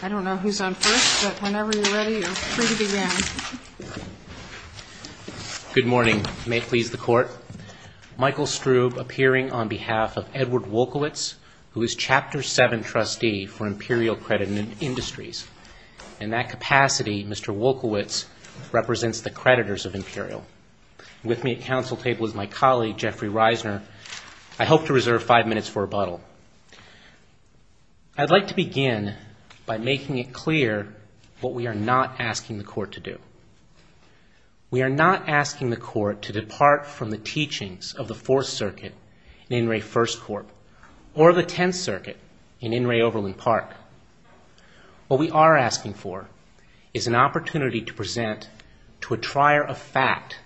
I don't know who's on first, but whenever you're ready, you're free to begin. Good morning. May it please the Court. Michael Strube appearing on behalf of Edward Wolkowicz, who is Chapter 7 trustee for Imperial Credit Industries. In that capacity, Mr. Wolkowicz represents the creditors of Imperial. With me at council table is my colleague, Jeffrey Reisner. I hope to reserve five minutes for rebuttal. I'd like to begin by making it clear what we are not asking the Court to do. We are not asking the Court to depart from the teachings of the Fourth Circuit in Inouye First Corp. or the Tenth Circuit in Inouye-Overland Park. What we are asking for is an opportunity to present to a trier of fact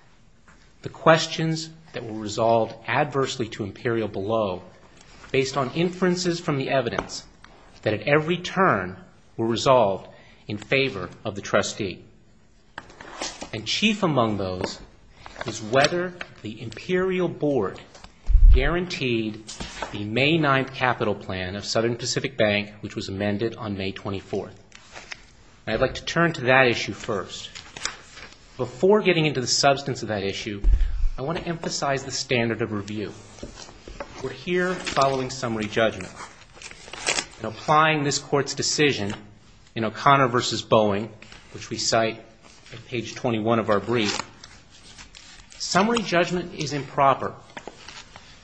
the questions that were resolved adversely to Imperial below, based on inferences from the evidence that at every turn were resolved in favor of the trustee. And chief among those is whether the Imperial Board guaranteed the May 9th capital plan of Southern Pacific Bank, which was amended on May 24th. I'd like to turn to that issue first. Before getting into the substance of that issue, I want to emphasize the standard of review. We're here following summary judgment. In applying this Court's decision in O'Connor v. Boeing, which we cite at page 21 of our brief, summary judgment is improper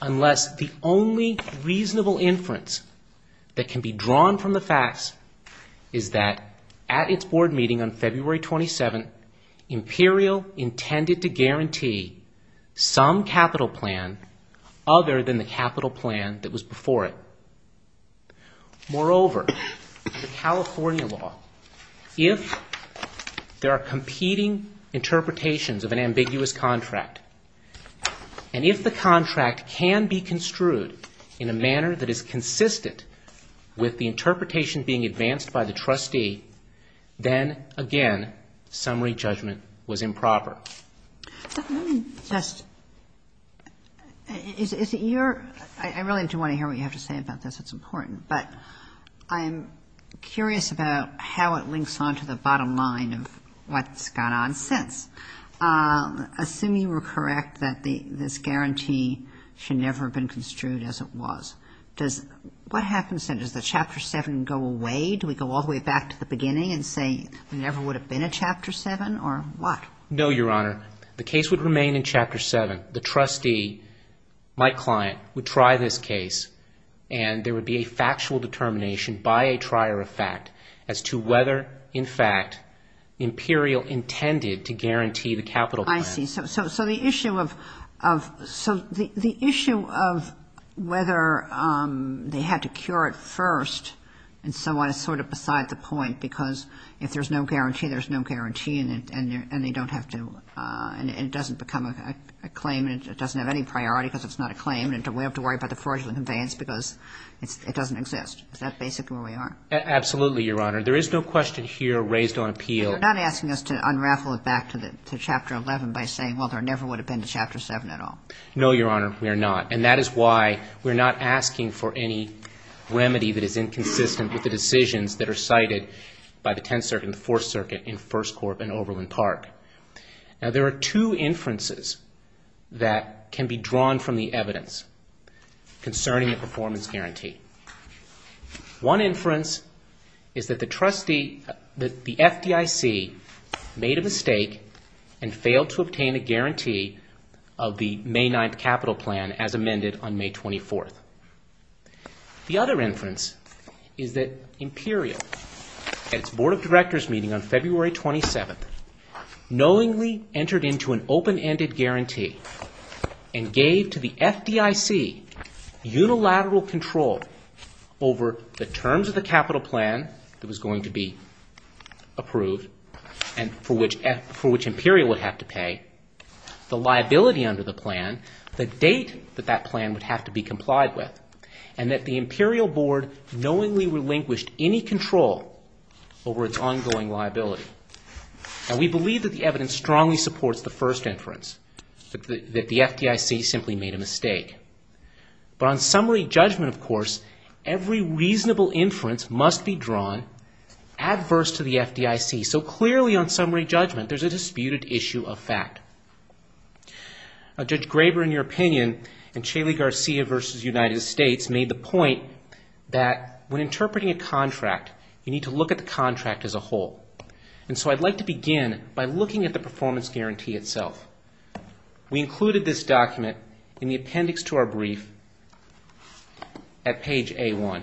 unless the only reasonable inference that can be drawn from the facts is that at its Board meeting on February 27th, Imperial intended to guarantee some capital plan other than the capital plan that was before it. Moreover, the California law, if there are competing interpretations of an ambiguous contract, and if the contract can be construed in a manner that is consistent with the interpretation being advanced by the trustee, then, again, summary judgment was improper. Let me just — is it your — I really do want to hear what you have to say about this. It's important. But I'm curious about how it links on to the bottom line of what's gone on since. Assuming we're correct that this guarantee should never have been construed as it was, does — what happens then? Does the Chapter 7 go away? Do we go all the way back to the beginning and say there never would have been a Chapter 7, or what? No, Your Honor. The case would remain in Chapter 7. The trustee, my client, would try this case, and there would be a factual determination by a trier of fact as to whether, in fact, Imperial intended to guarantee the capital plan. I see. So the issue of whether they had to cure it first and so on is sort of beside the point, because if there's no guarantee, there's no guarantee, and they don't have to — and it doesn't become a claim, and it doesn't have any priority because it's not a claim, and we have to worry about the fraudulent conveyance because it doesn't exist. Is that basically where we are? Absolutely, Your Honor. There is no question here raised on appeal. You're not asking us to unraffle it back to Chapter 11 by saying, well, there never would have been a Chapter 7 at all. No, Your Honor, we are not. And that is why we're not asking for any remedy that is inconsistent with the decisions that are cited by the Tenth Circuit and the Fourth Circuit in First Corp and Oberlin Park. Now, there are two inferences that can be drawn from the evidence concerning the performance guarantee. One inference is that the FDIC made a mistake and failed to obtain a guarantee of the May 9th capital plan as amended on May 24th. The other inference is that Imperial, at its Board of Directors meeting on February 27th, entered into an open-ended guarantee and gave to the FDIC unilateral control over the terms of the capital plan that was going to be approved and for which Imperial would have to pay, the liability under the plan, the date that that plan would have to be complied with, and that the Imperial Board knowingly relinquished any control over its ongoing liability. Now, we believe that the evidence strongly supports the first inference, that the FDIC simply made a mistake. But on summary judgment, of course, every reasonable inference must be drawn adverse to the FDIC. So clearly on summary judgment, there's a disputed issue of fact. Judge Graber, in your opinion, in Chaley Garcia v. United States, made the point that when interpreting a contract, you need to look at the contract as a whole. And so I'd like to begin by looking at the performance guarantee itself. We included this document in the appendix to our brief at page A1.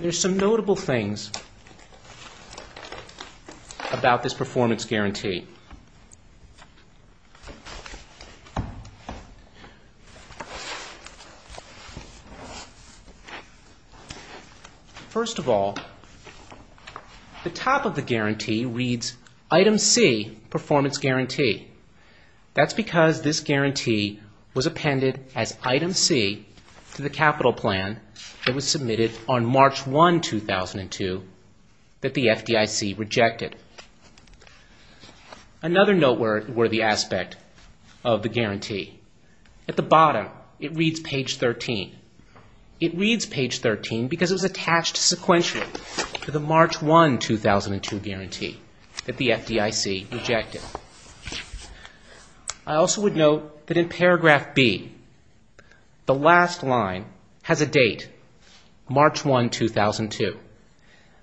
There's some notable things about this performance guarantee. First of all, the top of the guarantee reads, Item C, Performance Guarantee. That's because this guarantee was appended as Item C to the capital plan that was submitted on March 1, 2002, that the FDIC rejected. Another noteworthy aspect of the guarantee, at the bottom, it reads page 13. It reads page 13 because it was attached sequentially to the March 1, 2002 guarantee that the FDIC rejected. I also would note that in paragraph B, the last line has a date, March 1, 2002.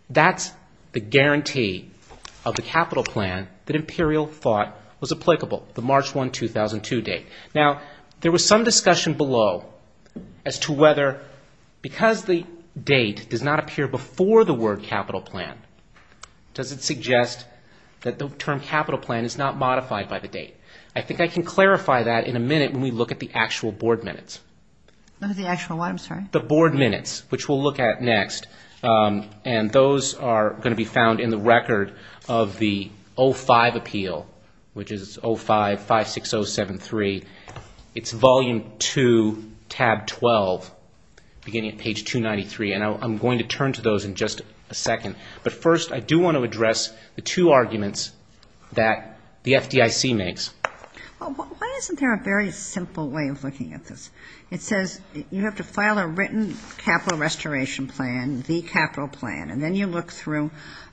That's the guarantee of the capital plan that Imperial thought was applicable, the March 1, 2002 date. Now, there was some discussion below as to whether, because the date does not appear before the word capital plan, does it suggest that the term capital plan is not modified by the date? I think I can clarify that in a minute when we look at the actual board minutes. The actual what, I'm sorry? The board minutes, which we'll look at next. And those are going to be found in the record of the 05 appeal, which is 05-56073. It's volume 2, tab 12, beginning at page 293. And I'm going to turn to those in just a second. But first, I do want to address the two arguments that the FDIC makes. Why isn't there a very simple way of looking at this? It says you have to file a written capital restoration plan, the capital plan. And then you look through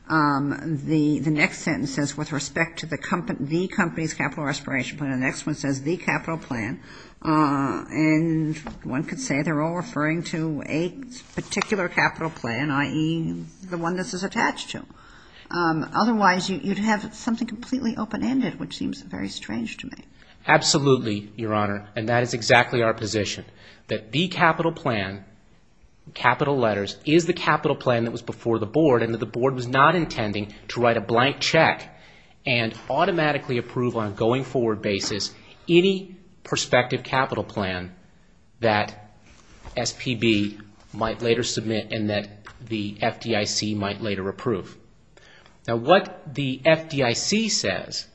the next sentence that says with respect to the company's capital restoration plan. The next one says the capital plan. And one could say they're all referring to a particular capital plan, i.e., the one this is attached to. Otherwise, you'd have something completely open-ended, which seems very strange to me. Absolutely, Your Honor, and that is exactly our position. That the capital plan, capital letters, is the capital plan that was before the board and that the board was not intending to write a blank check and automatically approve on a going-forward basis any prospective capital plan that SPB might later submit and that the FDIC might later approve. Now what the FDIC says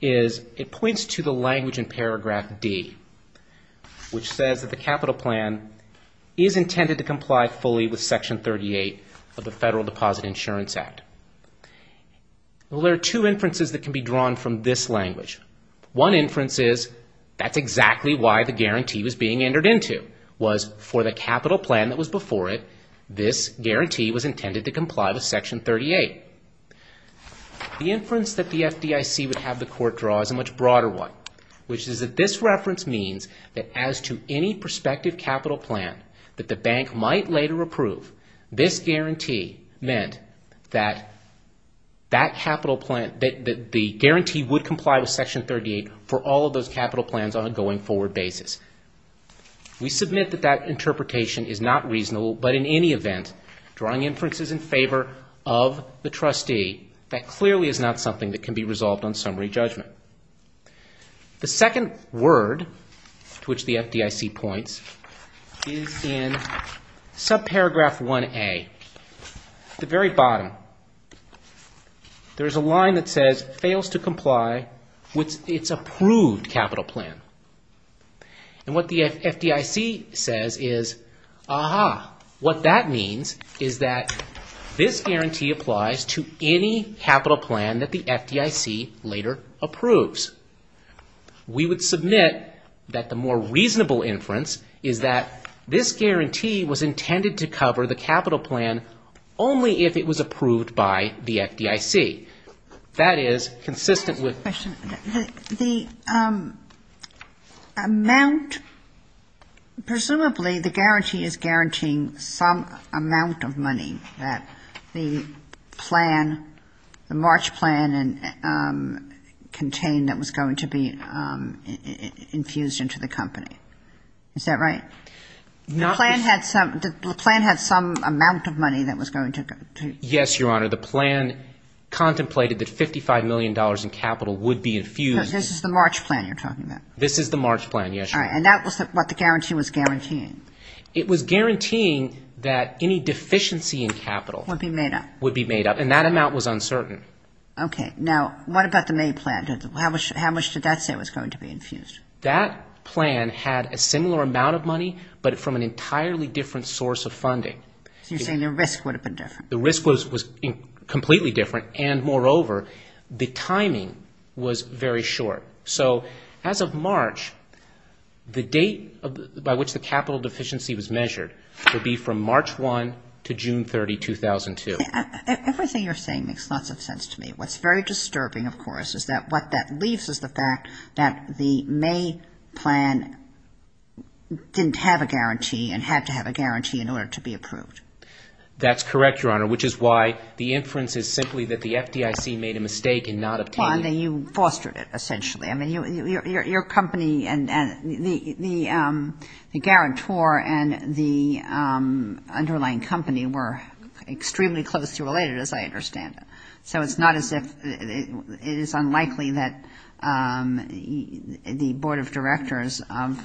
is it points to the language in paragraph D, which says that the capital plan is intended to comply fully with Section 38 of the Federal Deposit Insurance Act. Well, there are two inferences that can be drawn from this language. One inference is that's exactly why the guarantee was being entered into, was for the capital plan that was before it, this guarantee was intended to comply with Section 38. The inference that the FDIC would have the Court draw is a much broader one, which is that this reference means that as to any prospective capital plan that the bank might later approve, this guarantee meant that the guarantee would comply with Section 38 for all of those capital plans on a going-forward basis. We submit that that interpretation is not reasonable, but in any event, drawing inferences in favor of the trustee, that clearly is not something that can be resolved on summary judgment. The second word to which the FDIC points is in subparagraph 1A. At the very bottom, there's a line that says fails to comply with its approved capital plan. And what the FDIC says is, aha, what that means is that this guarantee applies to any capital plan that the FDIC later approves. We would submit that the more reasonable inference is that this guarantee was intended to cover the capital plan only if it was approved by the FDIC. That is consistent with... Is that right? The plan had some amount of money that was going to... Yes, Your Honor. The plan contemplated that $55 million in capital would be infused... This is the March plan you're talking about. This is the March plan, yes, Your Honor. And that was what the guarantee was guaranteeing. It was guaranteeing that any deficiency in capital... Would be made up. Would be made up. And that amount was uncertain. Okay. Now, what about the May plan? How much did that say was going to be infused? That plan had a similar amount of money, but from an entirely different source of funding. So you're saying the risk would have been different. The risk was completely different, and moreover, the timing was very short. So as of March, the date by which the capital deficiency was measured would be from March 1 to June 30, 2002. Everything you're saying makes lots of sense to me. What's very disturbing, of course, is that what that leaves is the fact that the May plan didn't have a guarantee and had to have a guarantee in order to be approved. That's correct, Your Honor, which is why the inference is simply that the FDIC made a mistake in not obtaining... Well, and then you fostered it, essentially. I mean, your company and the guarantor and the underlying company were extremely closely related, as I understand it. So it's not as if it is unlikely that the board of directors of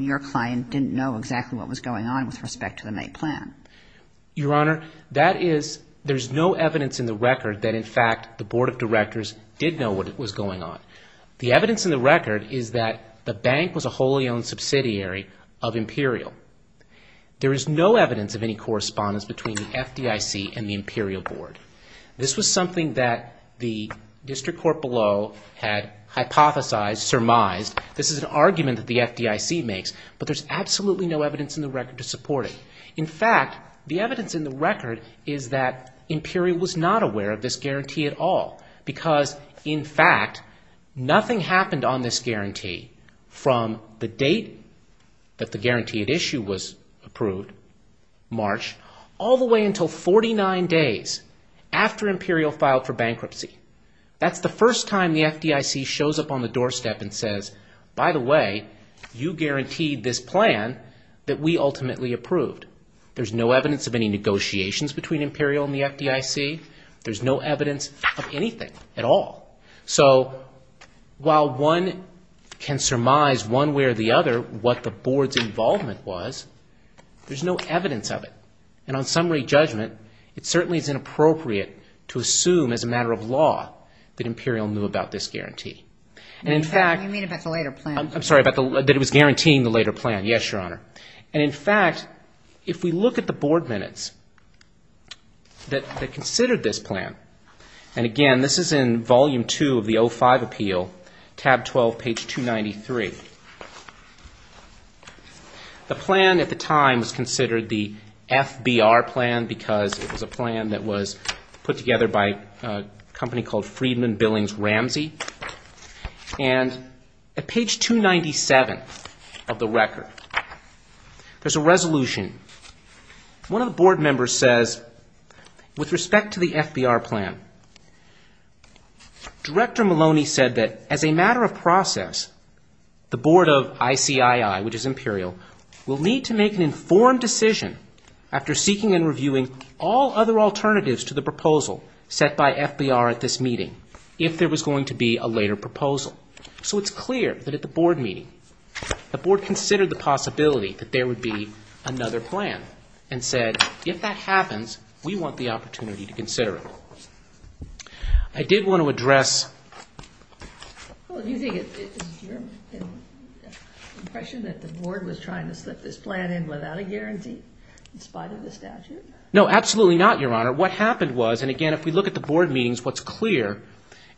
your client didn't know exactly what was going on with respect to the May plan. Your Honor, that is, there's no evidence in the record that, in fact, the board of directors did know what was going on. The evidence in the record is that the bank was a wholly owned subsidiary of Imperial. There is no evidence of any correspondence between the FDIC and the Imperial board. This was something that the district court below had hypothesized, surmised. This is an argument that the FDIC makes, but there's absolutely no evidence in the record to support it. In fact, the evidence in the record is that Imperial was not aware of this guarantee at all because, in fact, nothing happened on this guarantee from the date that the guaranteed issue was approved, March, all the way until 49 days after Imperial filed for bankruptcy. That's the first time the FDIC shows up on the doorstep and says, by the way, you guaranteed this plan that we ultimately approved. There's no evidence of any negotiations between Imperial and the FDIC. There's no evidence of anything at all. So while one can surmise one way or the other what the board's involvement was, there's no evidence of it. And on summary judgment, it certainly is inappropriate to assume as a matter of law that Imperial knew about this guarantee. And, in fact— You mean about the later plan. I'm sorry, that it was guaranteeing the later plan. Yes, Your Honor. And, in fact, if we look at the board minutes that considered this plan, and, again, this is in Volume 2 of the 05 Appeal, Tab 12, page 293. The plan at the time was considered the FBR plan because it was a plan that was put together by a company called Friedman Billings Ramsey. And at page 297 of the record, there's a resolution. One of the board members says, with respect to the FBR plan, Director Maloney said that as a matter of process, the board of ICII, which is Imperial, will need to make an informed decision after seeking and reviewing all other alternatives to the proposal set by FBR at this meeting, if there was going to be a later proposal. So it's clear that at the board meeting, the board considered the possibility that there would be another plan and said, if that happens, we want the opportunity to consider it. I did want to address— Well, do you think it's your impression that the board was trying to slip this plan in without a guarantee in spite of the statute? No, absolutely not, Your Honor. What happened was, and, again, if we look at the board meetings, what's clear,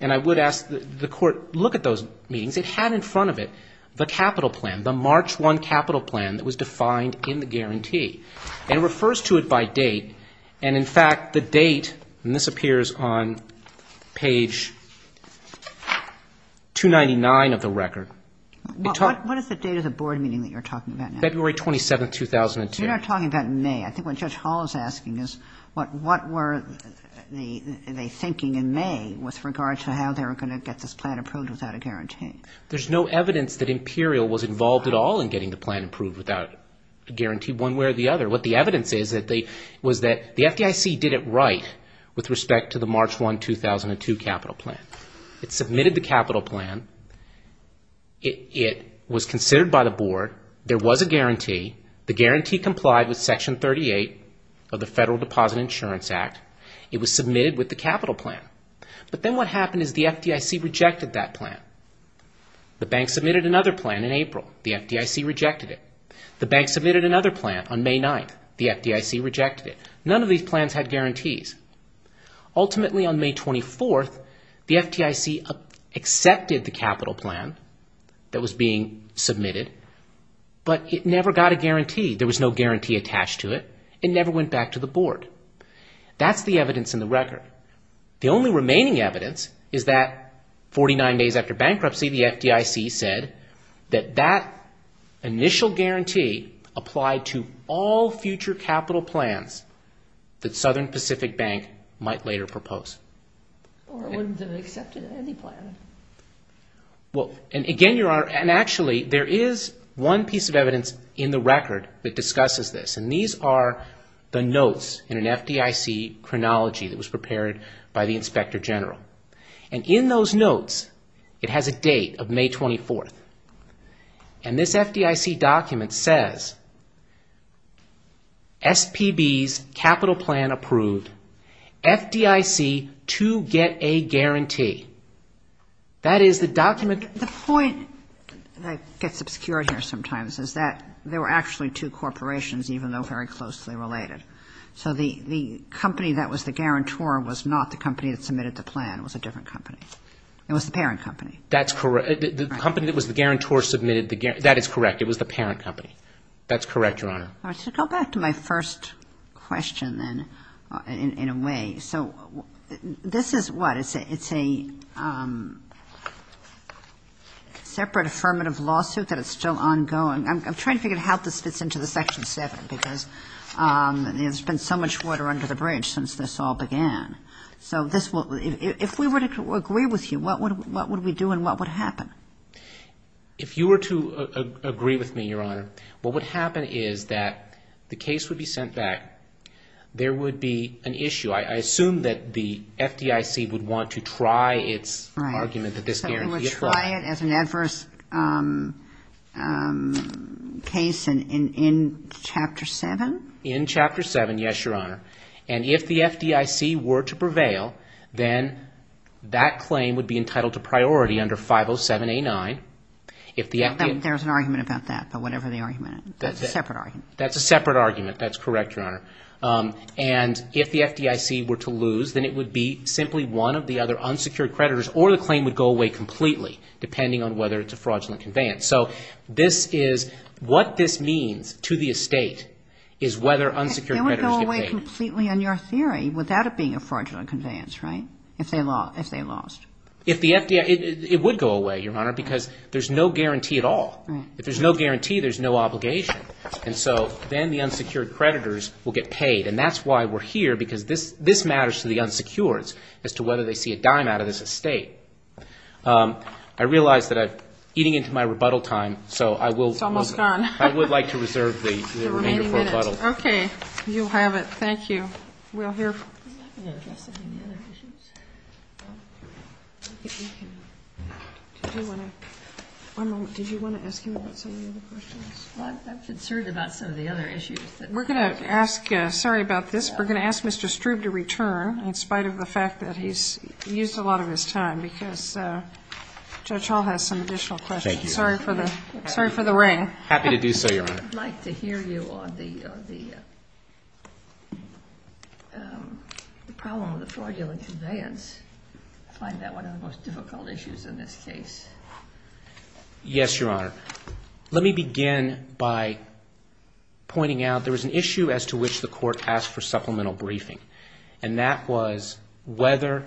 and I would ask the Court, look at those meetings, it had in front of it the capital plan, the March 1 capital plan that was defined in the guarantee. And it refers to it by date. And, in fact, the date, and this appears on page 299 of the record. What is the date of the board meeting that you're talking about now? February 27, 2002. You're not talking about May. I think what Judge Hall is asking is, what were they thinking in May with regard to how they were going to get this plan approved without a guarantee? There's no evidence that Imperial was involved at all in getting the plan approved without a guarantee one way or the other. What the evidence is, was that the FDIC did it right with respect to the March 1, 2002 capital plan. It submitted the capital plan. It was considered by the board. There was a guarantee. The guarantee complied with Section 38 of the Federal Deposit Insurance Act. It was submitted with the capital plan. But then what happened is the FDIC rejected that plan. The bank submitted another plan in April. The FDIC rejected it. The bank submitted another plan on May 9. The FDIC rejected it. None of these plans had guarantees. Ultimately, on May 24, the FDIC accepted the capital plan that was being submitted, but it never got a guarantee. There was no guarantee attached to it. It never went back to the board. The only remaining evidence is that 49 days after bankruptcy, the FDIC said that that initial guarantee applied to all future capital plans that Southern Pacific Bank might later propose. Or it wouldn't have been accepted in any plan. Again, Your Honor, and actually, there is one piece of evidence in the record that discusses this, and these are the notes in an FDIC chronology that was prepared by the Inspector General. And in those notes, it has a date of May 24. And this FDIC document says, SPB's capital plan approved. FDIC to get a guarantee. That is the document... The point that gets obscured here sometimes is that there were actually two corporations, even though very closely related. So the company that was the guarantor was not the company that submitted the plan. It was a different company. It was the parent company. That's correct. The company that was the guarantor submitted the guarantor. That is correct. It was the parent company. That's correct, Your Honor. All right. So go back to my first question, then, in a way. So this is what? It's a separate affirmative lawsuit that is still ongoing. I'm trying to figure out how this fits into the Section 7 because there's been so much water under the bridge since this all began. So if we were to agree with you, what would we do and what would happen? If you were to agree with me, Your Honor, what would happen is that the case would be sent back. There would be an issue. I assume that the FDIC would want to try its argument that this guarantees fraud. Right. So it would try it as an adverse case in Chapter 7? In Chapter 7, yes, Your Honor. And if the FDIC were to prevail, then that claim would be entitled to priority under 507A9. There's an argument about that, but whatever the argument, that's a separate argument. That's a separate argument. That's correct, Your Honor. And if the FDIC were to lose, then it would be simply one of the other unsecured creditors, or the claim would go away completely depending on whether it's a fraudulent conveyance. So this is what this means to the estate is whether unsecured creditors get paid. They would go away completely in your theory without it being a fraudulent conveyance, right, if they lost? If the FDIC – it would go away, Your Honor, because there's no guarantee at all. Right. If there's no guarantee, there's no obligation. And so then the unsecured creditors will get paid. And that's why we're here, because this matters to the unsecured as to whether they see a dime out of this estate. I realize that I'm eating into my rebuttal time, so I will – It's almost gone. I would like to reserve the remainder for rebuttal. Okay. You have it. Thank you. Are we all here? I'm not going to address any of the other issues. Did you want to – one moment. Did you want to ask him about some of the other questions? I'm concerned about some of the other issues. We're going to ask – sorry about this. We're going to ask Mr. Strube to return in spite of the fact that he's used a lot of his time, because Judge Hall has some additional questions. Thank you. Sorry for the – sorry for the ring. Happy to do so, Your Honor. I would like to hear you on the problem of the fraudulent conveyance. I find that one of the most difficult issues in this case. Yes, Your Honor. Let me begin by pointing out there was an issue as to which the Court asked for supplemental briefing, and that was whether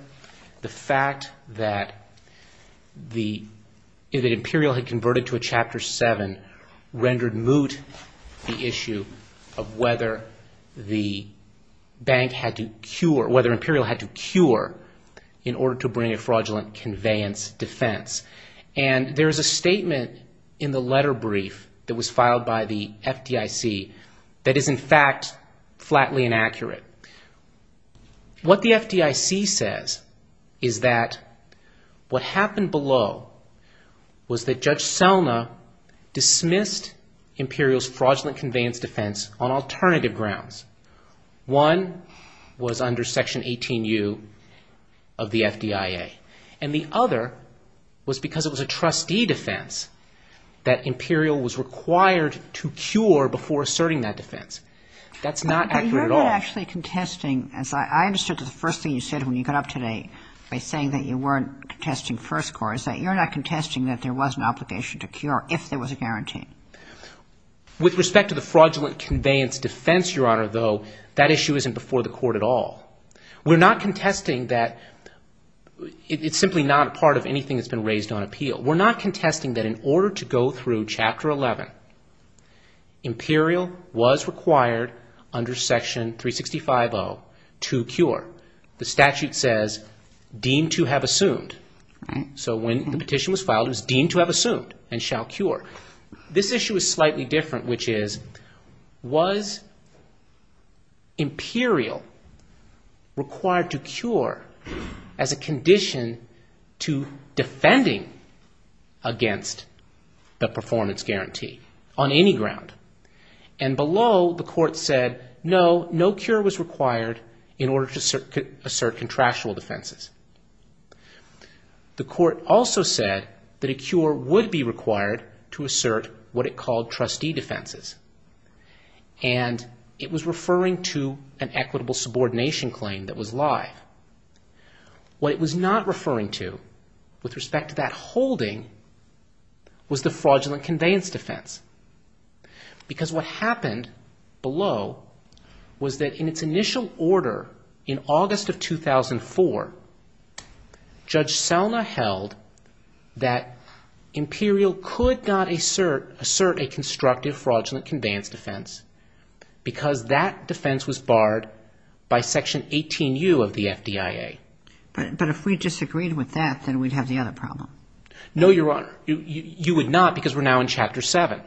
the fact that the – that Imperial had converted to a Chapter 7 rendered moot the issue of whether the bank had to cure – whether Imperial had to cure in order to bring a fraudulent conveyance defense. And there is a statement in the letter brief that was filed by the FDIC that is, in fact, flatly inaccurate. What the FDIC says is that what happened below was that Judge Selma dismissed Imperial's fraudulent conveyance defense on alternative grounds. One was under Section 18U of the FDIA, and the other was because it was a trustee defense that Imperial was required to cure before asserting that defense. That's not accurate at all. But you're not actually contesting, as I understood the first thing you said when you got up today by saying that you weren't contesting first course, that you're not contesting that there was an obligation to cure if there was a guarantee. With respect to the fraudulent conveyance defense, Your Honor, though, that issue isn't before the Court at all. We're not contesting that – it's simply not a part of anything that's been raised on appeal. We're not contesting that in order to go through Chapter 11, Imperial was required under Section 365O to cure. The statute says, deemed to have assumed. So when the petition was filed, it was deemed to have assumed and shall cure. This issue is slightly different, which is, was Imperial required to cure as a condition to defending against the performance guarantee on any ground? And below, the Court said, no, no cure was required in order to assert contractual defenses. The Court also said that a cure would be required to assert what it called trustee defenses. And it was referring to an equitable subordination claim that was live. What it was not referring to, with respect to that holding, was the fraudulent conveyance defense. Because what happened below was that in its initial order in August of 2004, Judge Selma held that Imperial could not assert a constructive fraudulent conveyance defense because that defense was barred by Section 18U of the FDIA. But if we disagreed with that, then we'd have the other problem. No, Your Honor. You would not because we're now in Chapter 7.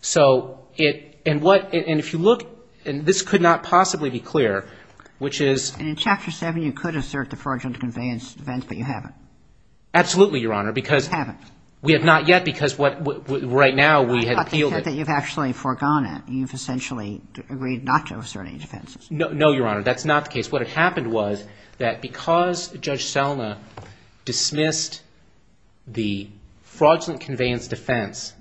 So it – and what – and if you look – and this could not possibly be clear, which is – And in Chapter 7, you could assert the fraudulent conveyance defense, but you haven't. Absolutely, Your Honor, because – You haven't. We have not yet because what – right now, we have appealed it. I thought you said that you've actually forgone it. You've essentially agreed not to assert any defenses. No, Your Honor. That's not the case. that because Judge Selma dismissed the fraudulent conveyance defense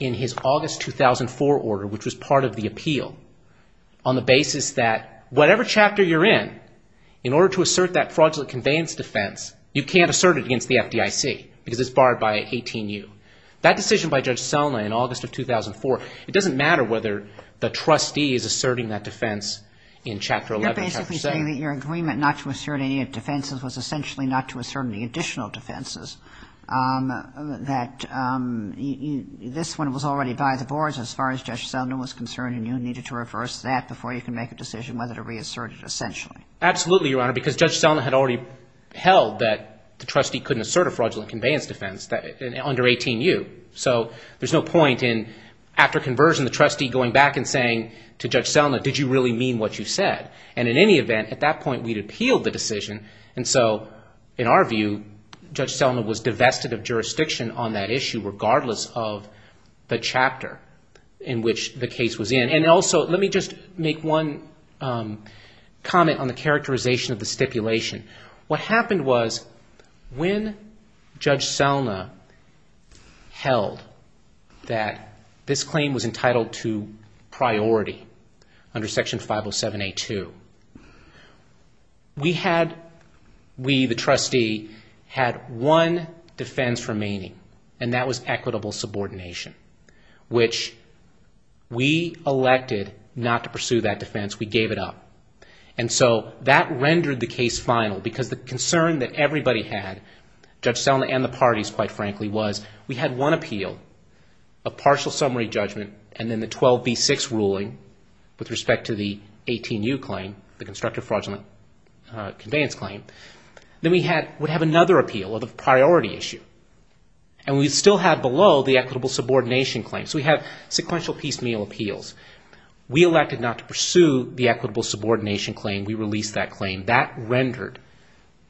in his August 2004 order, which was part of the appeal, on the basis that whatever chapter you're in, in order to assert that fraudulent conveyance defense, you can't assert it against the FDIC because it's barred by 18U. That decision by Judge Selma in August of 2004, it doesn't matter whether the trustee is asserting that defense in Chapter 11. You're basically saying that your agreement not to assert any defenses was essentially not to assert any additional defenses, that this one was already by the boards as far as Judge Selma was concerned and you needed to reverse that before you could make a decision whether to reassert it essentially. Absolutely, Your Honor, because Judge Selma had already held that the trustee couldn't assert a fraudulent conveyance defense under 18U. There's no point in, after conversion, the trustee going back and saying to Judge Selma, did you really mean what you said? In any event, at that point, we'd appealed the decision. In our view, Judge Selma was divested of jurisdiction on that issue regardless of the chapter in which the case was in. Also, let me just make one comment on the characterization of the stipulation. What happened was when Judge Selma held that this claim was entitled to priority under Section 507A2, we, the trustee, had one defense remaining and that was equitable subordination, which we elected not to pursue that defense. We gave it up. And so that rendered the case final because the concern that everybody had, Judge Selma and the parties, quite frankly, was we had one appeal of partial summary judgment and then the 12B6 ruling with respect to the 18U claim, the constructive fraudulent conveyance claim. Then we would have another appeal of a priority issue. And we'd still have below the equitable subordination claim. So we have sequential piecemeal appeals. We elected not to pursue the equitable subordination claim. We released that claim. That rendered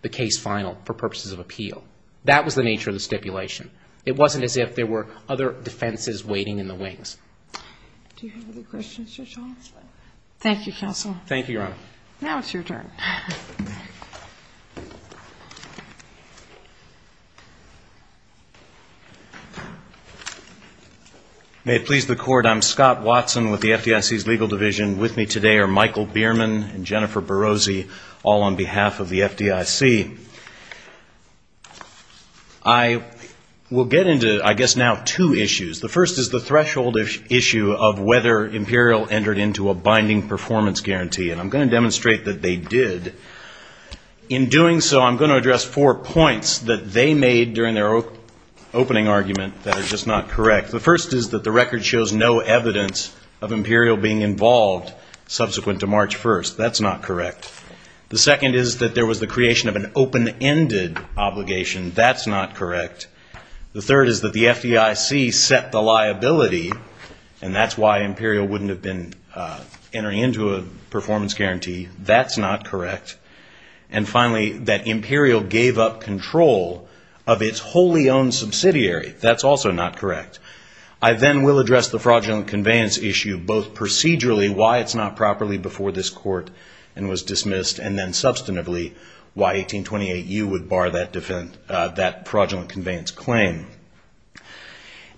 the case final for purposes of appeal. That was the nature of the stipulation. It wasn't as if there were other defenses waiting in the wings. Do you have any questions, Judge Osler? Thank you, counsel. Thank you, Your Honor. Now it's your turn. May it please the Court. I'm Scott Watson with the FDIC's Legal Division. With me today are Michael Bierman and Jennifer Barozzi, all on behalf of the FDIC. I will get into, I guess, now two issues. The first is the threshold issue of whether Imperial entered into a binding performance guarantee. And I'm going to demonstrate that they did. In doing so, I'm going to address four points that they made during their opening argument that are just not correct. The first is that the record shows no evidence of Imperial being involved subsequent to March 1st. That's not correct. The second is that there was the creation of an open-ended obligation. That's not correct. The third is that the FDIC set the liability, and that's why Imperial wouldn't have been entering into a performance guarantee. That's not correct. And finally, that Imperial gave up control of its wholly owned subsidiary. That's also not correct. I then will address the fraudulent conveyance issue, both procedurally, why it's not properly before this Court and was dismissed, and then substantively, why 1828U would bar that fraudulent conveyance claim.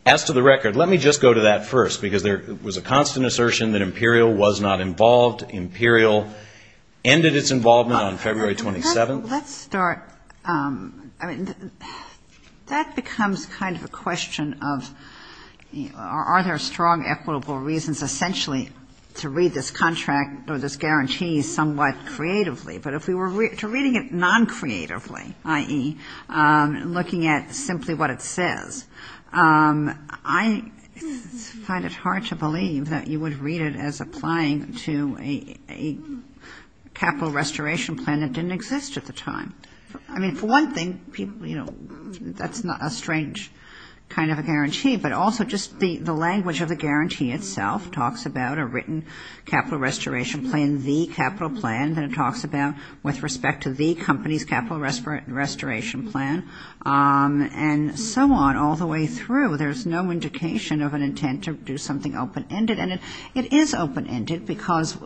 As to the record, let me just go to that first, because there was a constant assertion that Imperial was not involved. Imperial ended its involvement on February 27th. Well, let's start. I mean, that becomes kind of a question of are there strong equitable reasons essentially to read this contract or this guarantee somewhat creatively. But if we were to read it non-creatively, i.e., looking at simply what it says, I find it hard to believe that you would read it as applying to a capital restoration plan that didn't exist at the time. I mean, for one thing, people, you know, that's not a strange kind of a guarantee, but also just the language of the guarantee itself talks about a written capital restoration plan, the capital plan that it talks about with respect to the company's capital restoration plan, and so on. And all the way through, there's no indication of an intent to do something open-ended. And it is open-ended because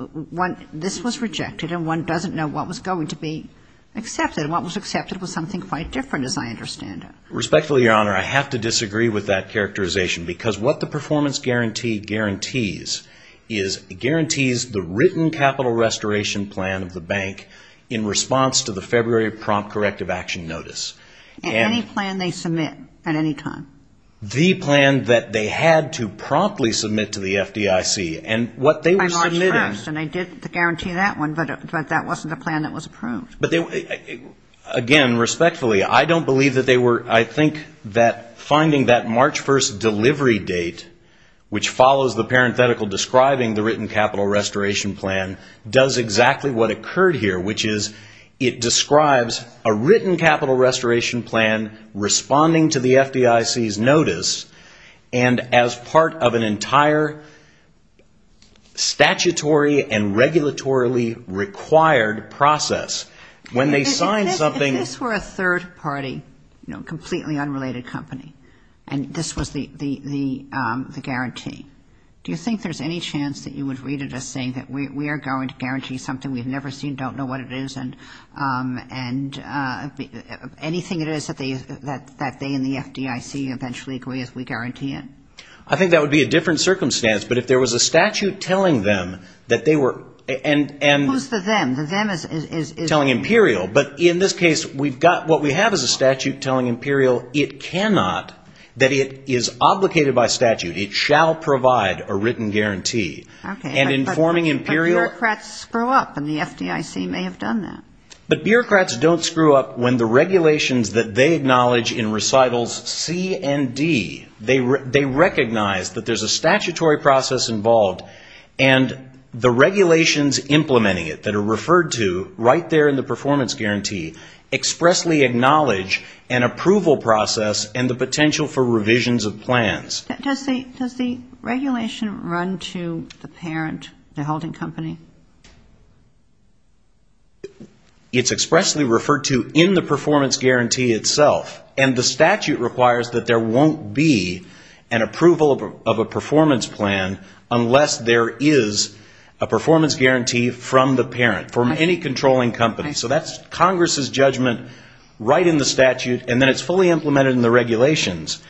this was rejected, and one doesn't know what was going to be accepted. And what was accepted was something quite different, as I understand it. Respectfully, Your Honor, I have to disagree with that characterization, because what the performance guarantee guarantees is it guarantees the written capital restoration plan of the bank in response to the February prompt corrective action notice. And any plan they submit at any time. The plan that they had to promptly submit to the FDIC. And what they were submitting... By March 1st, and I did the guarantee of that one, but that wasn't a plan that was approved. But, again, respectfully, I don't believe that they were, I think that finding that March 1st delivery date, which follows the parenthetical describing the written capital restoration plan, does exactly what occurred here, which is it describes a written capital restoration plan responding to the FDIC's notice, and as part of an entire statutory and regulatorily required process. When they signed something... If this were a third party, you know, completely unrelated company, and this was the guarantee, do you think there's any chance that you would read it as saying that we are going to guarantee something we've never seen, don't know what it is, and anything it is that they in the FDIC eventually agree as we guarantee it? I think that would be a different circumstance. But if there was a statute telling them that they were... Who's the them? The them is... Telling Imperial. But in this case, what we have is a statute telling Imperial it cannot, that it is obligated by statute, it shall provide a written guarantee. Okay. And informing Imperial... And the FDIC may have done that. But bureaucrats don't screw up when the regulations that they acknowledge in recitals C and D, they recognize that there's a statutory process involved, and the regulations implementing it that are referred to right there in the performance guarantee expressly acknowledge an approval process and the potential for revisions of plans. Does the regulation run to the parent, the holding company? It's expressly referred to in the performance guarantee itself, and the statute requires that there won't be an approval of a performance plan unless there is a performance guarantee from the parent, from any controlling company. So that's Congress's judgment right in the statute, and then it's fully implemented in the regulations.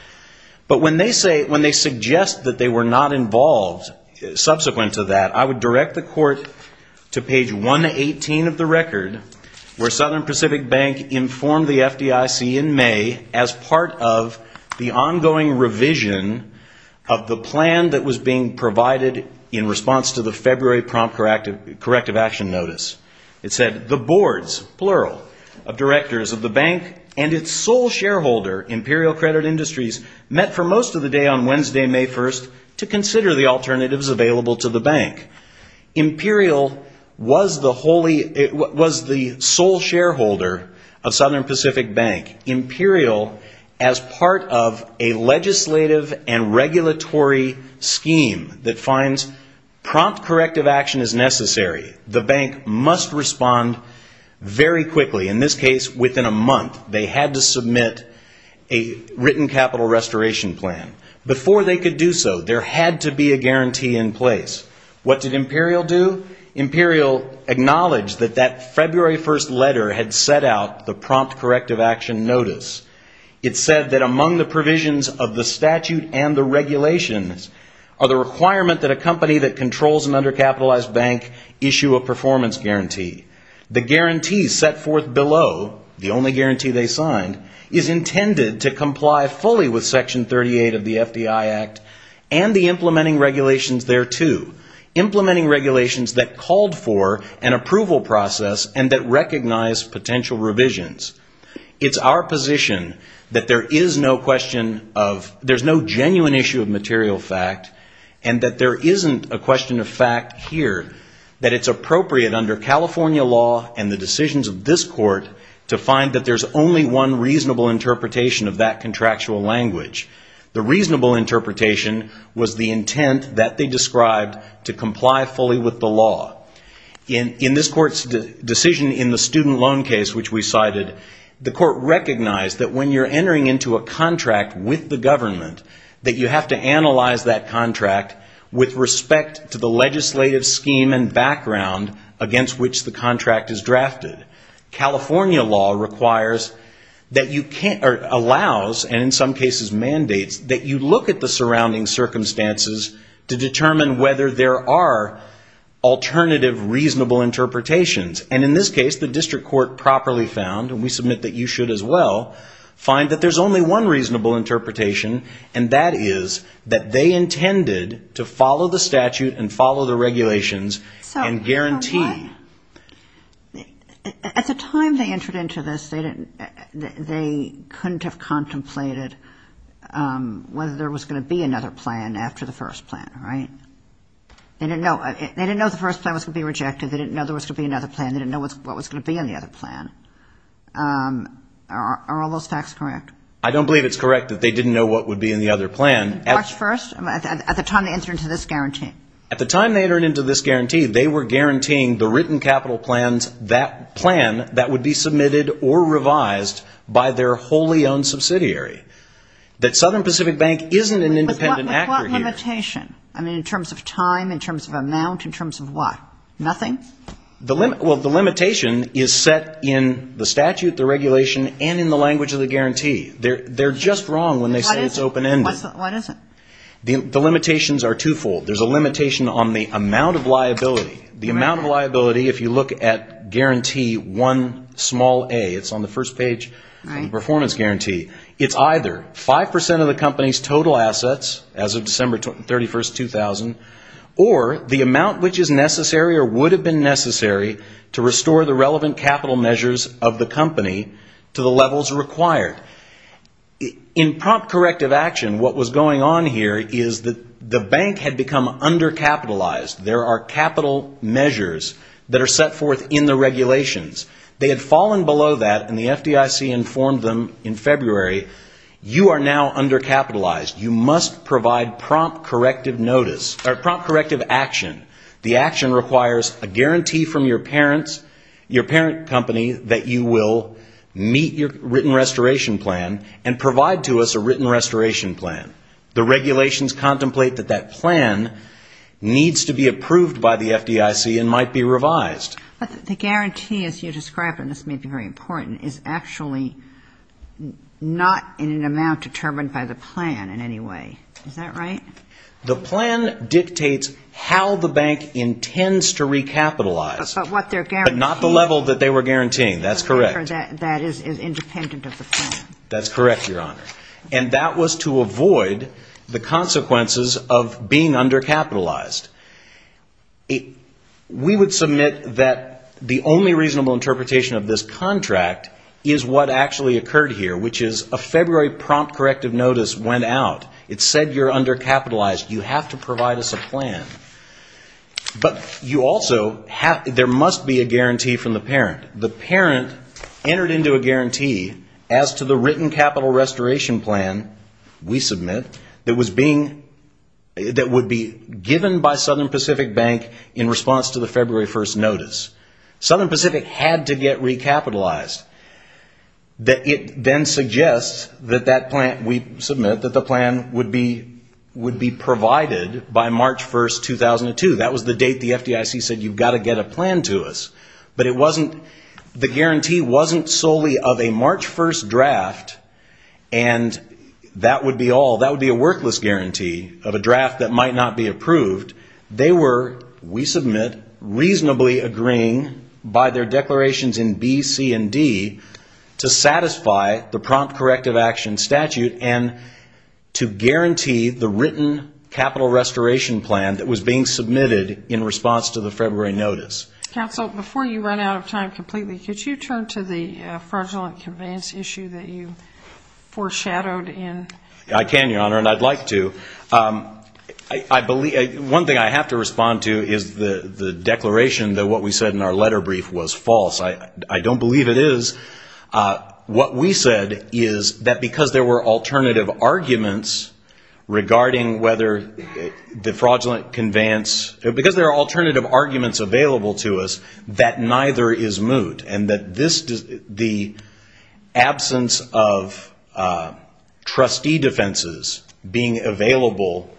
But when they say, when they suggest that they were not involved subsequent to that, I would direct the court to page 118 of the record, where Southern Pacific Bank informed the FDIC in May as part of the ongoing revision of the plan that was being provided in response to the February prompt corrective action notice. It said, the boards, plural, of directors of the bank and its sole shareholder, Imperial Credit Industries, met for most of the day on Wednesday, May 1st, to consider the alternatives available to the bank. Imperial was the sole shareholder of Southern Pacific Bank. Imperial, as part of a legislative and regulatory scheme that finds prompt corrective action is necessary, the bank must respond very quickly. In this case, within a month, they had to submit a written capital restoration plan. Before they could do so, there had to be a guarantee in place. What did Imperial do? Imperial acknowledged that that February 1st letter had set out the prompt corrective action notice. It said that among the provisions of the statute and the regulations are the requirement that a company that controls an undercapitalized bank issue a performance guarantee. The guarantee set forth below, the only guarantee they signed, is intended to comply fully with Section 38 of the FDI Act and the implementing regulations thereto, implementing regulations that called for an approval process and that recognized potential revisions. It's our position that there's no genuine issue of material fact, and that there isn't a question of fact here, that it's appropriate under California law and the decisions of this court to find that there's only one reasonable interpretation of that contractual language. The reasonable interpretation was the intent that they described to comply fully with the law. In this court's decision in the student loan case, which we cited, the court recognized that when you're entering into a contract with the government, that you have to analyze that contract with respect to the legislative scheme and background against which the contract is drafted. California law requires that you can't, or allows, and in some cases mandates, that you look at the surrounding circumstances to determine whether there are alternative reasonable interpretations. And in this case, the district court properly found, and we submit that you should as well, find that there's only one reasonable interpretation, and that is that they intended to follow the statute and follow the regulations and guarantee. At the time they entered into this, they couldn't have contemplated whether there was going to be another plan after the first plan, right? They didn't know the first plan was going to be rejected. They didn't know there was going to be another plan. They didn't know what was going to be in the other plan. Are all those facts correct? I don't believe it's correct that they didn't know what would be in the other plan. March 1st? At the time they entered into this guarantee? They were guaranteeing the written capital plans that plan that would be submitted or revised by their wholly owned subsidiary. That Southern Pacific Bank isn't an independent actor here. With what limitation? I mean, in terms of time, in terms of amount, in terms of what? Nothing? Well, the limitation is set in the statute, the regulation, and in the language of the guarantee. They're just wrong when they say it's open-ended. What is it? The limitations are twofold. There's a limitation on the amount of liability. The amount of liability, if you look at guarantee 1a, it's on the first page of the performance guarantee. It's either 5% of the company's total assets as of December 31st, 2000, or the amount which is necessary or would have been necessary to restore the relevant capital measures of the company to the levels required. In prompt corrective action, what was going on here is that the bank had become undercapitalized. There are capital measures that are set forth in the regulations. They had fallen below that, and the FDIC informed them in February, you are now undercapitalized. You must provide prompt corrective action. The action requires a guarantee from your parents, your parent company, that you will meet your written restoration plan and provide to us a written restoration plan. The regulations contemplate that that plan needs to be approved by the FDIC and might be revised. But the guarantee, as you described, and this may be very important, is actually not in an amount determined by the plan in any way. Is that right? The plan dictates how the bank intends to recapitalize. But not the level that they were guaranteeing, that's correct. That is independent of the plan. That's correct, Your Honor. And that was to avoid the consequences of being undercapitalized. We would submit that the only reasonable interpretation of this contract is what actually occurred here, which is a February prompt corrective notice went out. It said you're undercapitalized. You have to provide us a plan. But there must be a guarantee from the parent. The parent entered into a guarantee as to the written capital restoration plan we submit that would be given by Southern Pacific Bank in response to the February 1st notice. Southern Pacific had to get recapitalized. It then suggests that we submit that the plan would be provided by March 1st, 2002. That was the date the FDIC said you've got to get a plan to us. But the guarantee wasn't solely of a March 1st draft, and that would be all. That would be a workless guarantee of a draft that might not be approved. They were, we submit, reasonably agreeing by their declarations in B, C, and D to satisfy the prompt corrective action statute and to guarantee the written capital restoration plan that was being submitted in response to the February notice. Counsel, before you run out of time completely, could you turn to the fraudulent conveyance issue that you foreshadowed in? I can, Your Honor, and I'd like to. I believe, one thing I have to respond to is the declaration that what we said in our letter brief was false. I don't believe it is. What we said is that because there were alternative arguments regarding whether the fraudulent conveyance, because there are alternative arguments available to us, that neither is moot. And that this, the absence of trustee defenses being available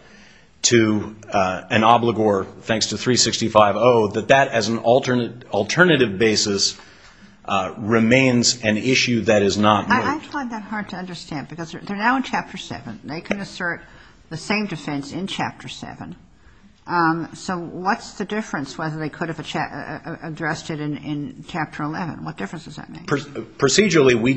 to an obligor thanks to 365-0, that that as an alternative basis remains an issue that is not moot. I find that hard to understand because they're now in Chapter 7. They can assert the same defense in Chapter 7. So what's the difference whether they could have addressed it in Chapter 11? What difference does that make? Procedurally, we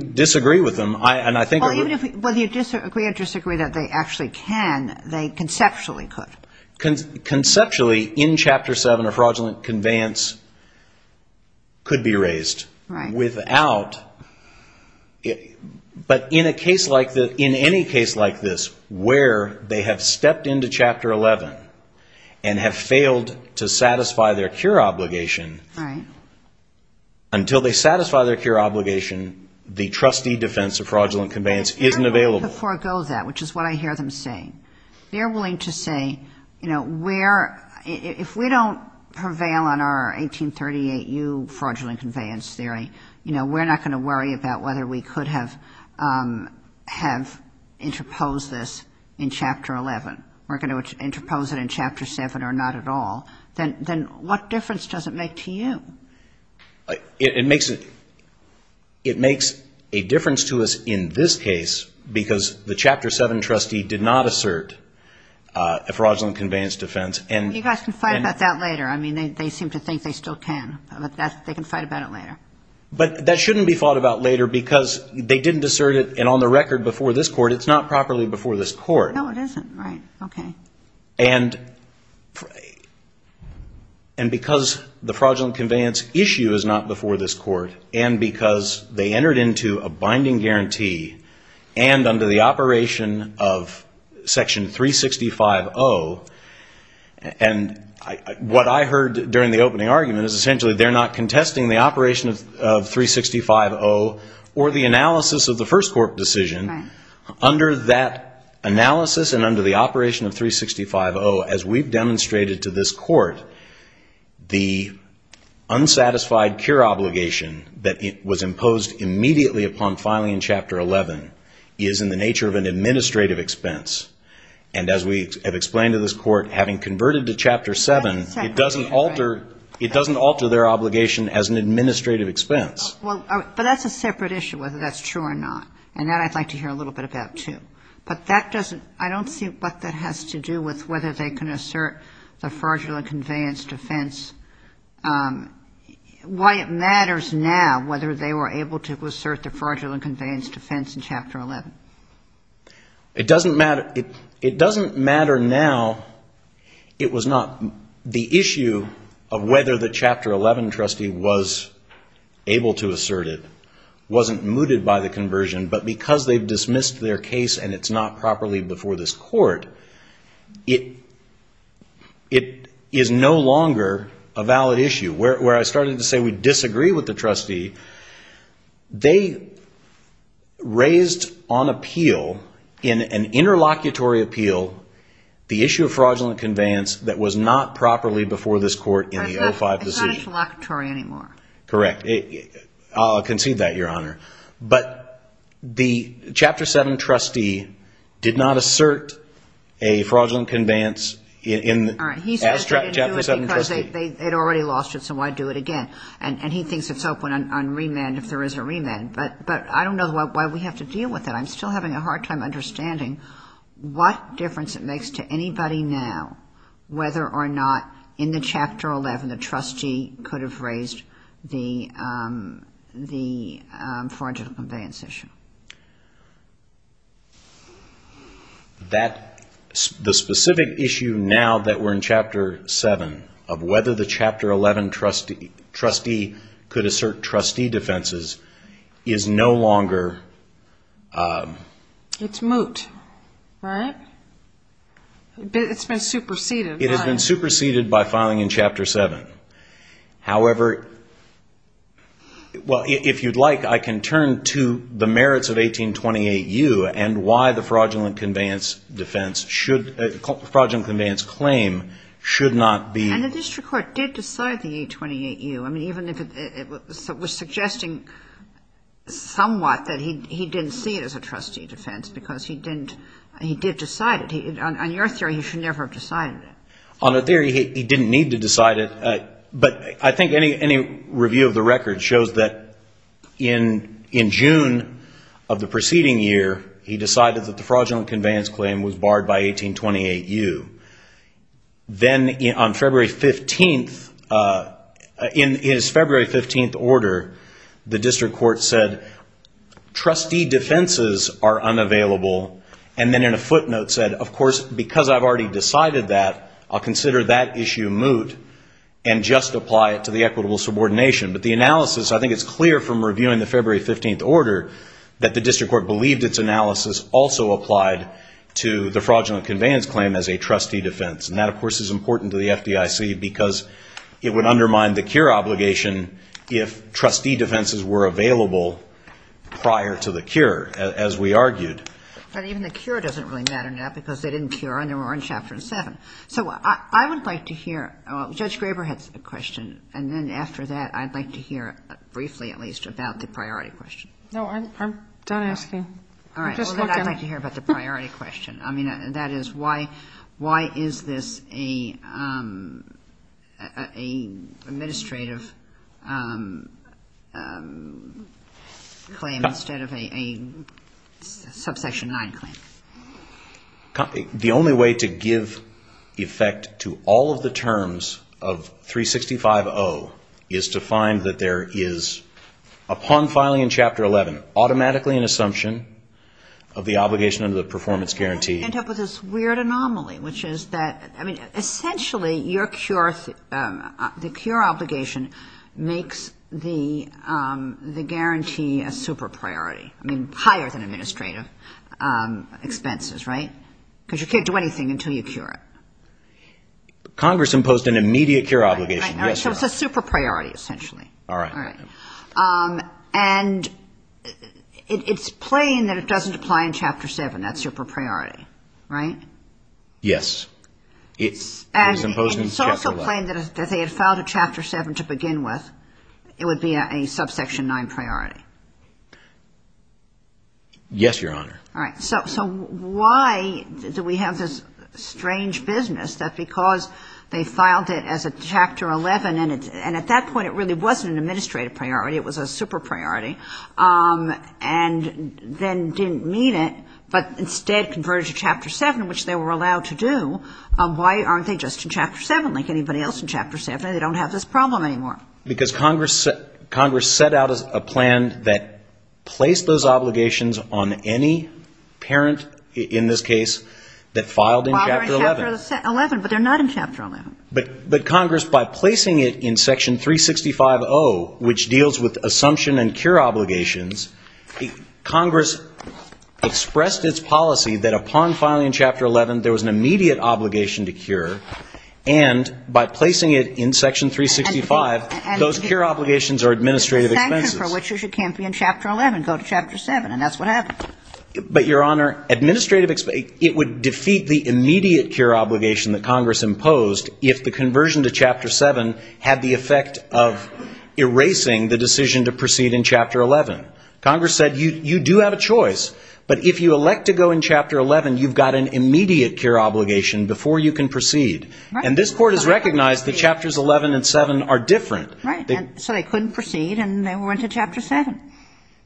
disagree with them. Well, even if you disagree or disagree that they actually can, they conceptually could. Conceptually, in Chapter 7, a fraudulent conveyance could be raised. Right. But in a case like this, in any case like this, where they have stepped into Chapter 11 and have failed to satisfy their cure obligation, until they satisfy their cure obligation, the trustee defense of fraudulent conveyance isn't available. They're willing to forego that, which is what I hear them saying. They're willing to say, you know, if we don't prevail on our 1838U fraudulent conveyance theory, you know, we're not going to worry about whether we could have interposed this in Chapter 11. We're going to interpose it in Chapter 7 or not at all. Then what difference does it make to you? It makes a difference to us in this case because the Chapter 7 trustee did not assert a fraudulent conveyance defense. You guys can fight about that later. I mean, they seem to think they still can. They can fight about it later. But that shouldn't be fought about later because they didn't assert it. And on the record, before this Court, it's not properly before this Court. No, it isn't. Right. Okay. And because the fraudulent conveyance issue is not before this Court and because they entered into a binding guarantee and under the operation of Section 365.0, and what I heard during the opening argument is essentially they're not contesting the operation of 365.0 or the analysis of the first court decision. Under that analysis and under the operation of 365.0, as we've demonstrated to this Court, the unsatisfied cure obligation that was imposed immediately upon filing in Chapter 11 is in the nature of an administrative expense. And as we have explained to this Court, having converted to Chapter 7, it doesn't alter their obligation as an administrative expense. Well, but that's a separate issue whether that's true or not. And that I'd like to hear a little bit about, too. But that doesn't, I don't see what that has to do with whether they can assert the fraudulent conveyance defense. Why it matters now whether they were able to assert the fraudulent conveyance defense in Chapter 11. It doesn't matter. It doesn't matter now. The issue of whether the Chapter 11 trustee was able to assert it wasn't mooted by the conversion, but because they've dismissed their case and it's not properly before this Court, it is no longer a valid issue. Where I started to say we disagree with the trustee, they raised on appeal, in an interlocutory appeal, the issue of fraudulent conveyance that was not properly before this Court in the 05 decision. It's not interlocutory anymore. Correct. I'll concede that, Your Honor. But the Chapter 7 trustee did not assert a fraudulent conveyance as Chapter 7 trustee. Because they had already lost it, so why do it again? And he thinks it's open on remand if there is a remand. But I don't know why we have to deal with it. I'm still having a hard time understanding what difference it makes to anybody now whether or not in the Chapter 11, the trustee could have raised the fraudulent conveyance issue. The specific issue now that we're in Chapter 7 of whether the Chapter 11 trustee could assert trustee defenses is no longer... It's moot, right? It's been superseded. It has been superseded by filing in Chapter 7. However, well, if you'd like, I can turn to the merits of 1828U and why the fraudulent conveyance claim should not be... And the district court did decide the 1828U. I mean, even if it was suggesting somewhat that he didn't see it as a trustee defense because he did decide it. On your theory, he should never have decided it. On the theory, he didn't need to decide it. But I think any review of the record shows that in June of the preceding year, he decided that the fraudulent conveyance claim was barred by 1828U. Then on February 15th, in his February 15th order, the district court said, trustee defenses are unavailable. And then in a footnote said, of course, because I've already decided that, I'll consider that issue moot and just apply it to the equitable subordination. But the analysis, I think it's clear from reviewing the February 15th order, that the district court believed its analysis also applied to the fraudulent conveyance claim as a trustee defense. And that, of course, is important to the FDIC because it would undermine the cure obligation if trustee defenses were available prior to the cure, as we argued. But even the cure doesn't really matter now because they didn't cure and they were on Chapter 7. So I would like to hear Judge Graber had a question, and then after that I'd like to hear briefly at least about the priority question. No, I'm done asking. All right. Well, then I'd like to hear about the priority question. I mean, that is, why is this an administrative claim instead of a subsection 9 claim? The only way to give effect to all of the terms of 365.0 is to find that there is, upon filing in Chapter 11, automatically an assumption of the obligation under the performance guarantee. You end up with this weird anomaly, which is that, I mean, essentially your cure, the cure obligation makes the guarantee a super priority. I mean, higher than administrative expenses, right? Because you can't do anything until you cure it. Congress imposed an immediate cure obligation. Right, right. So it's a super priority, essentially. All right. And it's plain that it doesn't apply in Chapter 7, that super priority, right? Yes. It's imposed in Chapter 11. And it's also plain that if they had filed a Chapter 7 to begin with, it would be a subsection 9 priority. Yes, Your Honor. All right. So why do we have this strange business that because they filed it as a Chapter 11, and at that point it really wasn't an administrative priority, it was a super priority, and then didn't meet it but instead converted to Chapter 7, which they were allowed to do, why aren't they just in Chapter 7 like anybody else in Chapter 7? They don't have this problem anymore. Because Congress set out a plan that placed those obligations on any parent in this case that filed in Chapter 11. But they're not in Chapter 11. But Congress, by placing it in Section 365.0, which deals with assumption and cure obligations, Congress expressed its policy that upon filing in Chapter 11, there was an immediate obligation to cure, and by placing it in Section 365, those cure obligations are administrative expenses. And the sanction for which it can't be in Chapter 11, go to Chapter 7, and that's what happened. But, Your Honor, it would defeat the immediate cure obligation that Congress imposed if the conversion to Chapter 7 had the effect of erasing the decision to proceed in Chapter 11. Congress said you do have a choice, but if you elect to go in Chapter 11, you've got an immediate cure obligation before you can proceed. And this Court has recognized that Chapters 11 and 7 are different. Right. So they couldn't proceed, and they went to Chapter 7.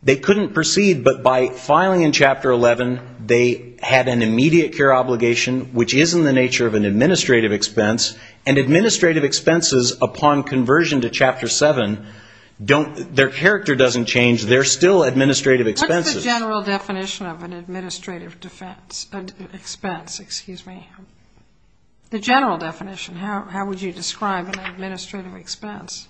They couldn't proceed, but by filing in Chapter 11, they had an immediate cure obligation, which is in the nature of an administrative expense, and administrative expenses upon conversion to Chapter 7, their character doesn't change. They're still administrative expenses. What's the general definition of an administrative expense? The general definition. How would you describe an administrative expense?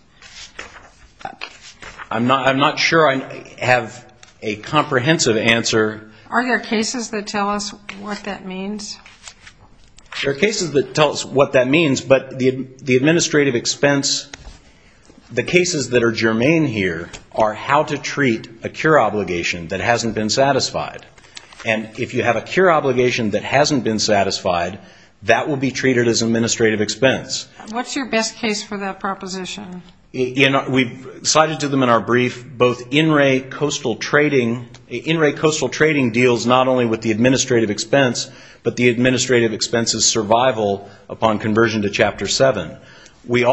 I'm not sure I have a comprehensive answer. Are there cases that tell us what that means? There are cases that tell us what that means, but the administrative expense, the cases that are germane here are how to treat a cure obligation that hasn't been satisfied. And if you have a cure obligation that hasn't been satisfied, that will be treated as an administrative expense. What's your best case for that proposition? We've cited to them in our brief both in-ray coastal trading. In-ray coastal trading deals not only with the administrative expense, but the administrative expense's survival upon conversion to Chapter 7. Was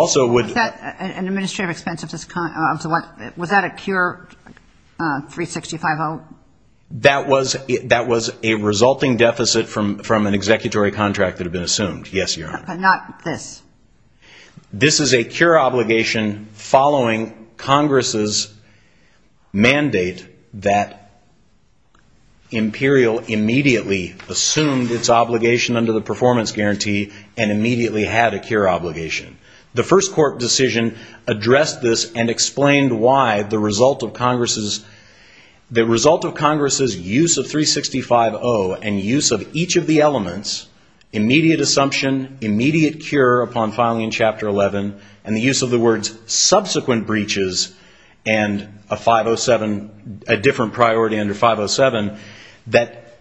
that an administrative expense? Was that a cure 365-0? That was a resulting deficit from an executory contract that had been assumed, yes, Your Honor. But not this. This is a cure obligation following Congress's mandate that Imperial immediately assumed its obligation under the performance guarantee and immediately had a cure obligation. The first court decision addressed this and explained why the result of Congress's use of 365-0 and use of each of the elements, immediate assumption, immediate cure upon filing in Chapter 11, and the use of the words subsequent breaches and a 507, a different priority under 507, that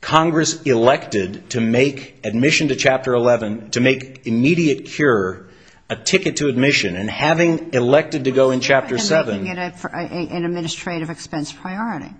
Congress elected to make admission to Chapter 11, to make immediate cure a ticket to admission. And having elected to go in Chapter 7 ---- And making it an administrative expense priority.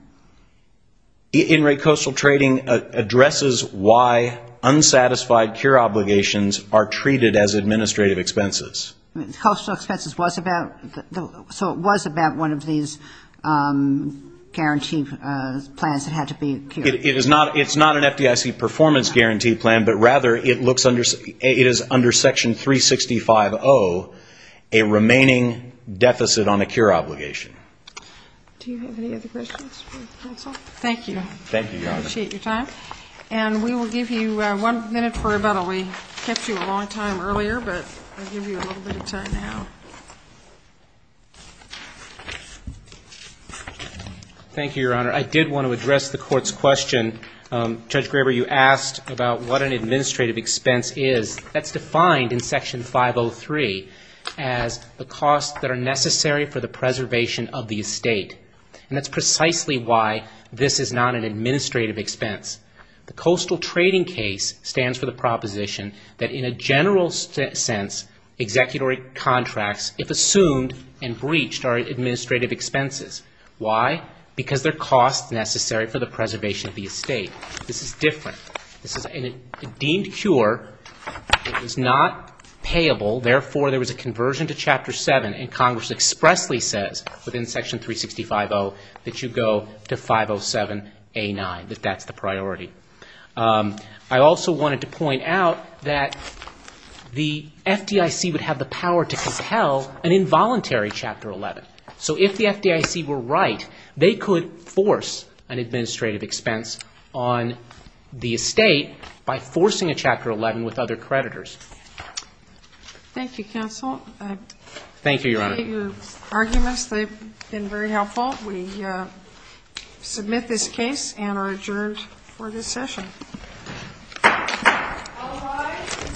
In-ray coastal trading addresses why unsatisfied cure obligations are treated as administrative expenses. Coastal expenses was about one of these guarantee plans that had to be cured. It is not an FDIC performance guarantee plan, but rather it is under Section 365-0 a remaining deficit on a cure obligation. Do you have any other questions for the counsel? Thank you. Thank you, Your Honor. I appreciate your time. And we will give you one minute for rebuttal. We kept you a long time earlier, but I'll give you a little bit of time now. Thank you, Your Honor. I did want to address the Court's question. Judge Graber, you asked about what an administrative expense is. That's defined in Section 503 as the costs that are necessary for the preservation of the estate. And that's precisely why this is not an administrative expense. The coastal trading case stands for the proposition that in a general sense, executory contracts, if assumed and breached, are administrative expenses. Why? Because they're costs necessary for the preservation of the estate. This is different. This is a deemed cure. It is not payable. Therefore, there was a conversion to Chapter 7, and Congress expressly says within Section 365-0 that you go to 507A9, that that's the priority. I also wanted to point out that the FDIC would have the power to compel an involuntary Chapter 11. So if the FDIC were right, they could force an administrative expense on the estate by forcing a Chapter 11 with other creditors. Thank you, counsel. Thank you, Your Honor. Your arguments, they've been very helpful. We submit this case and are adjourned for this session. All rise. This court is adjourned. Thank you. Thank you.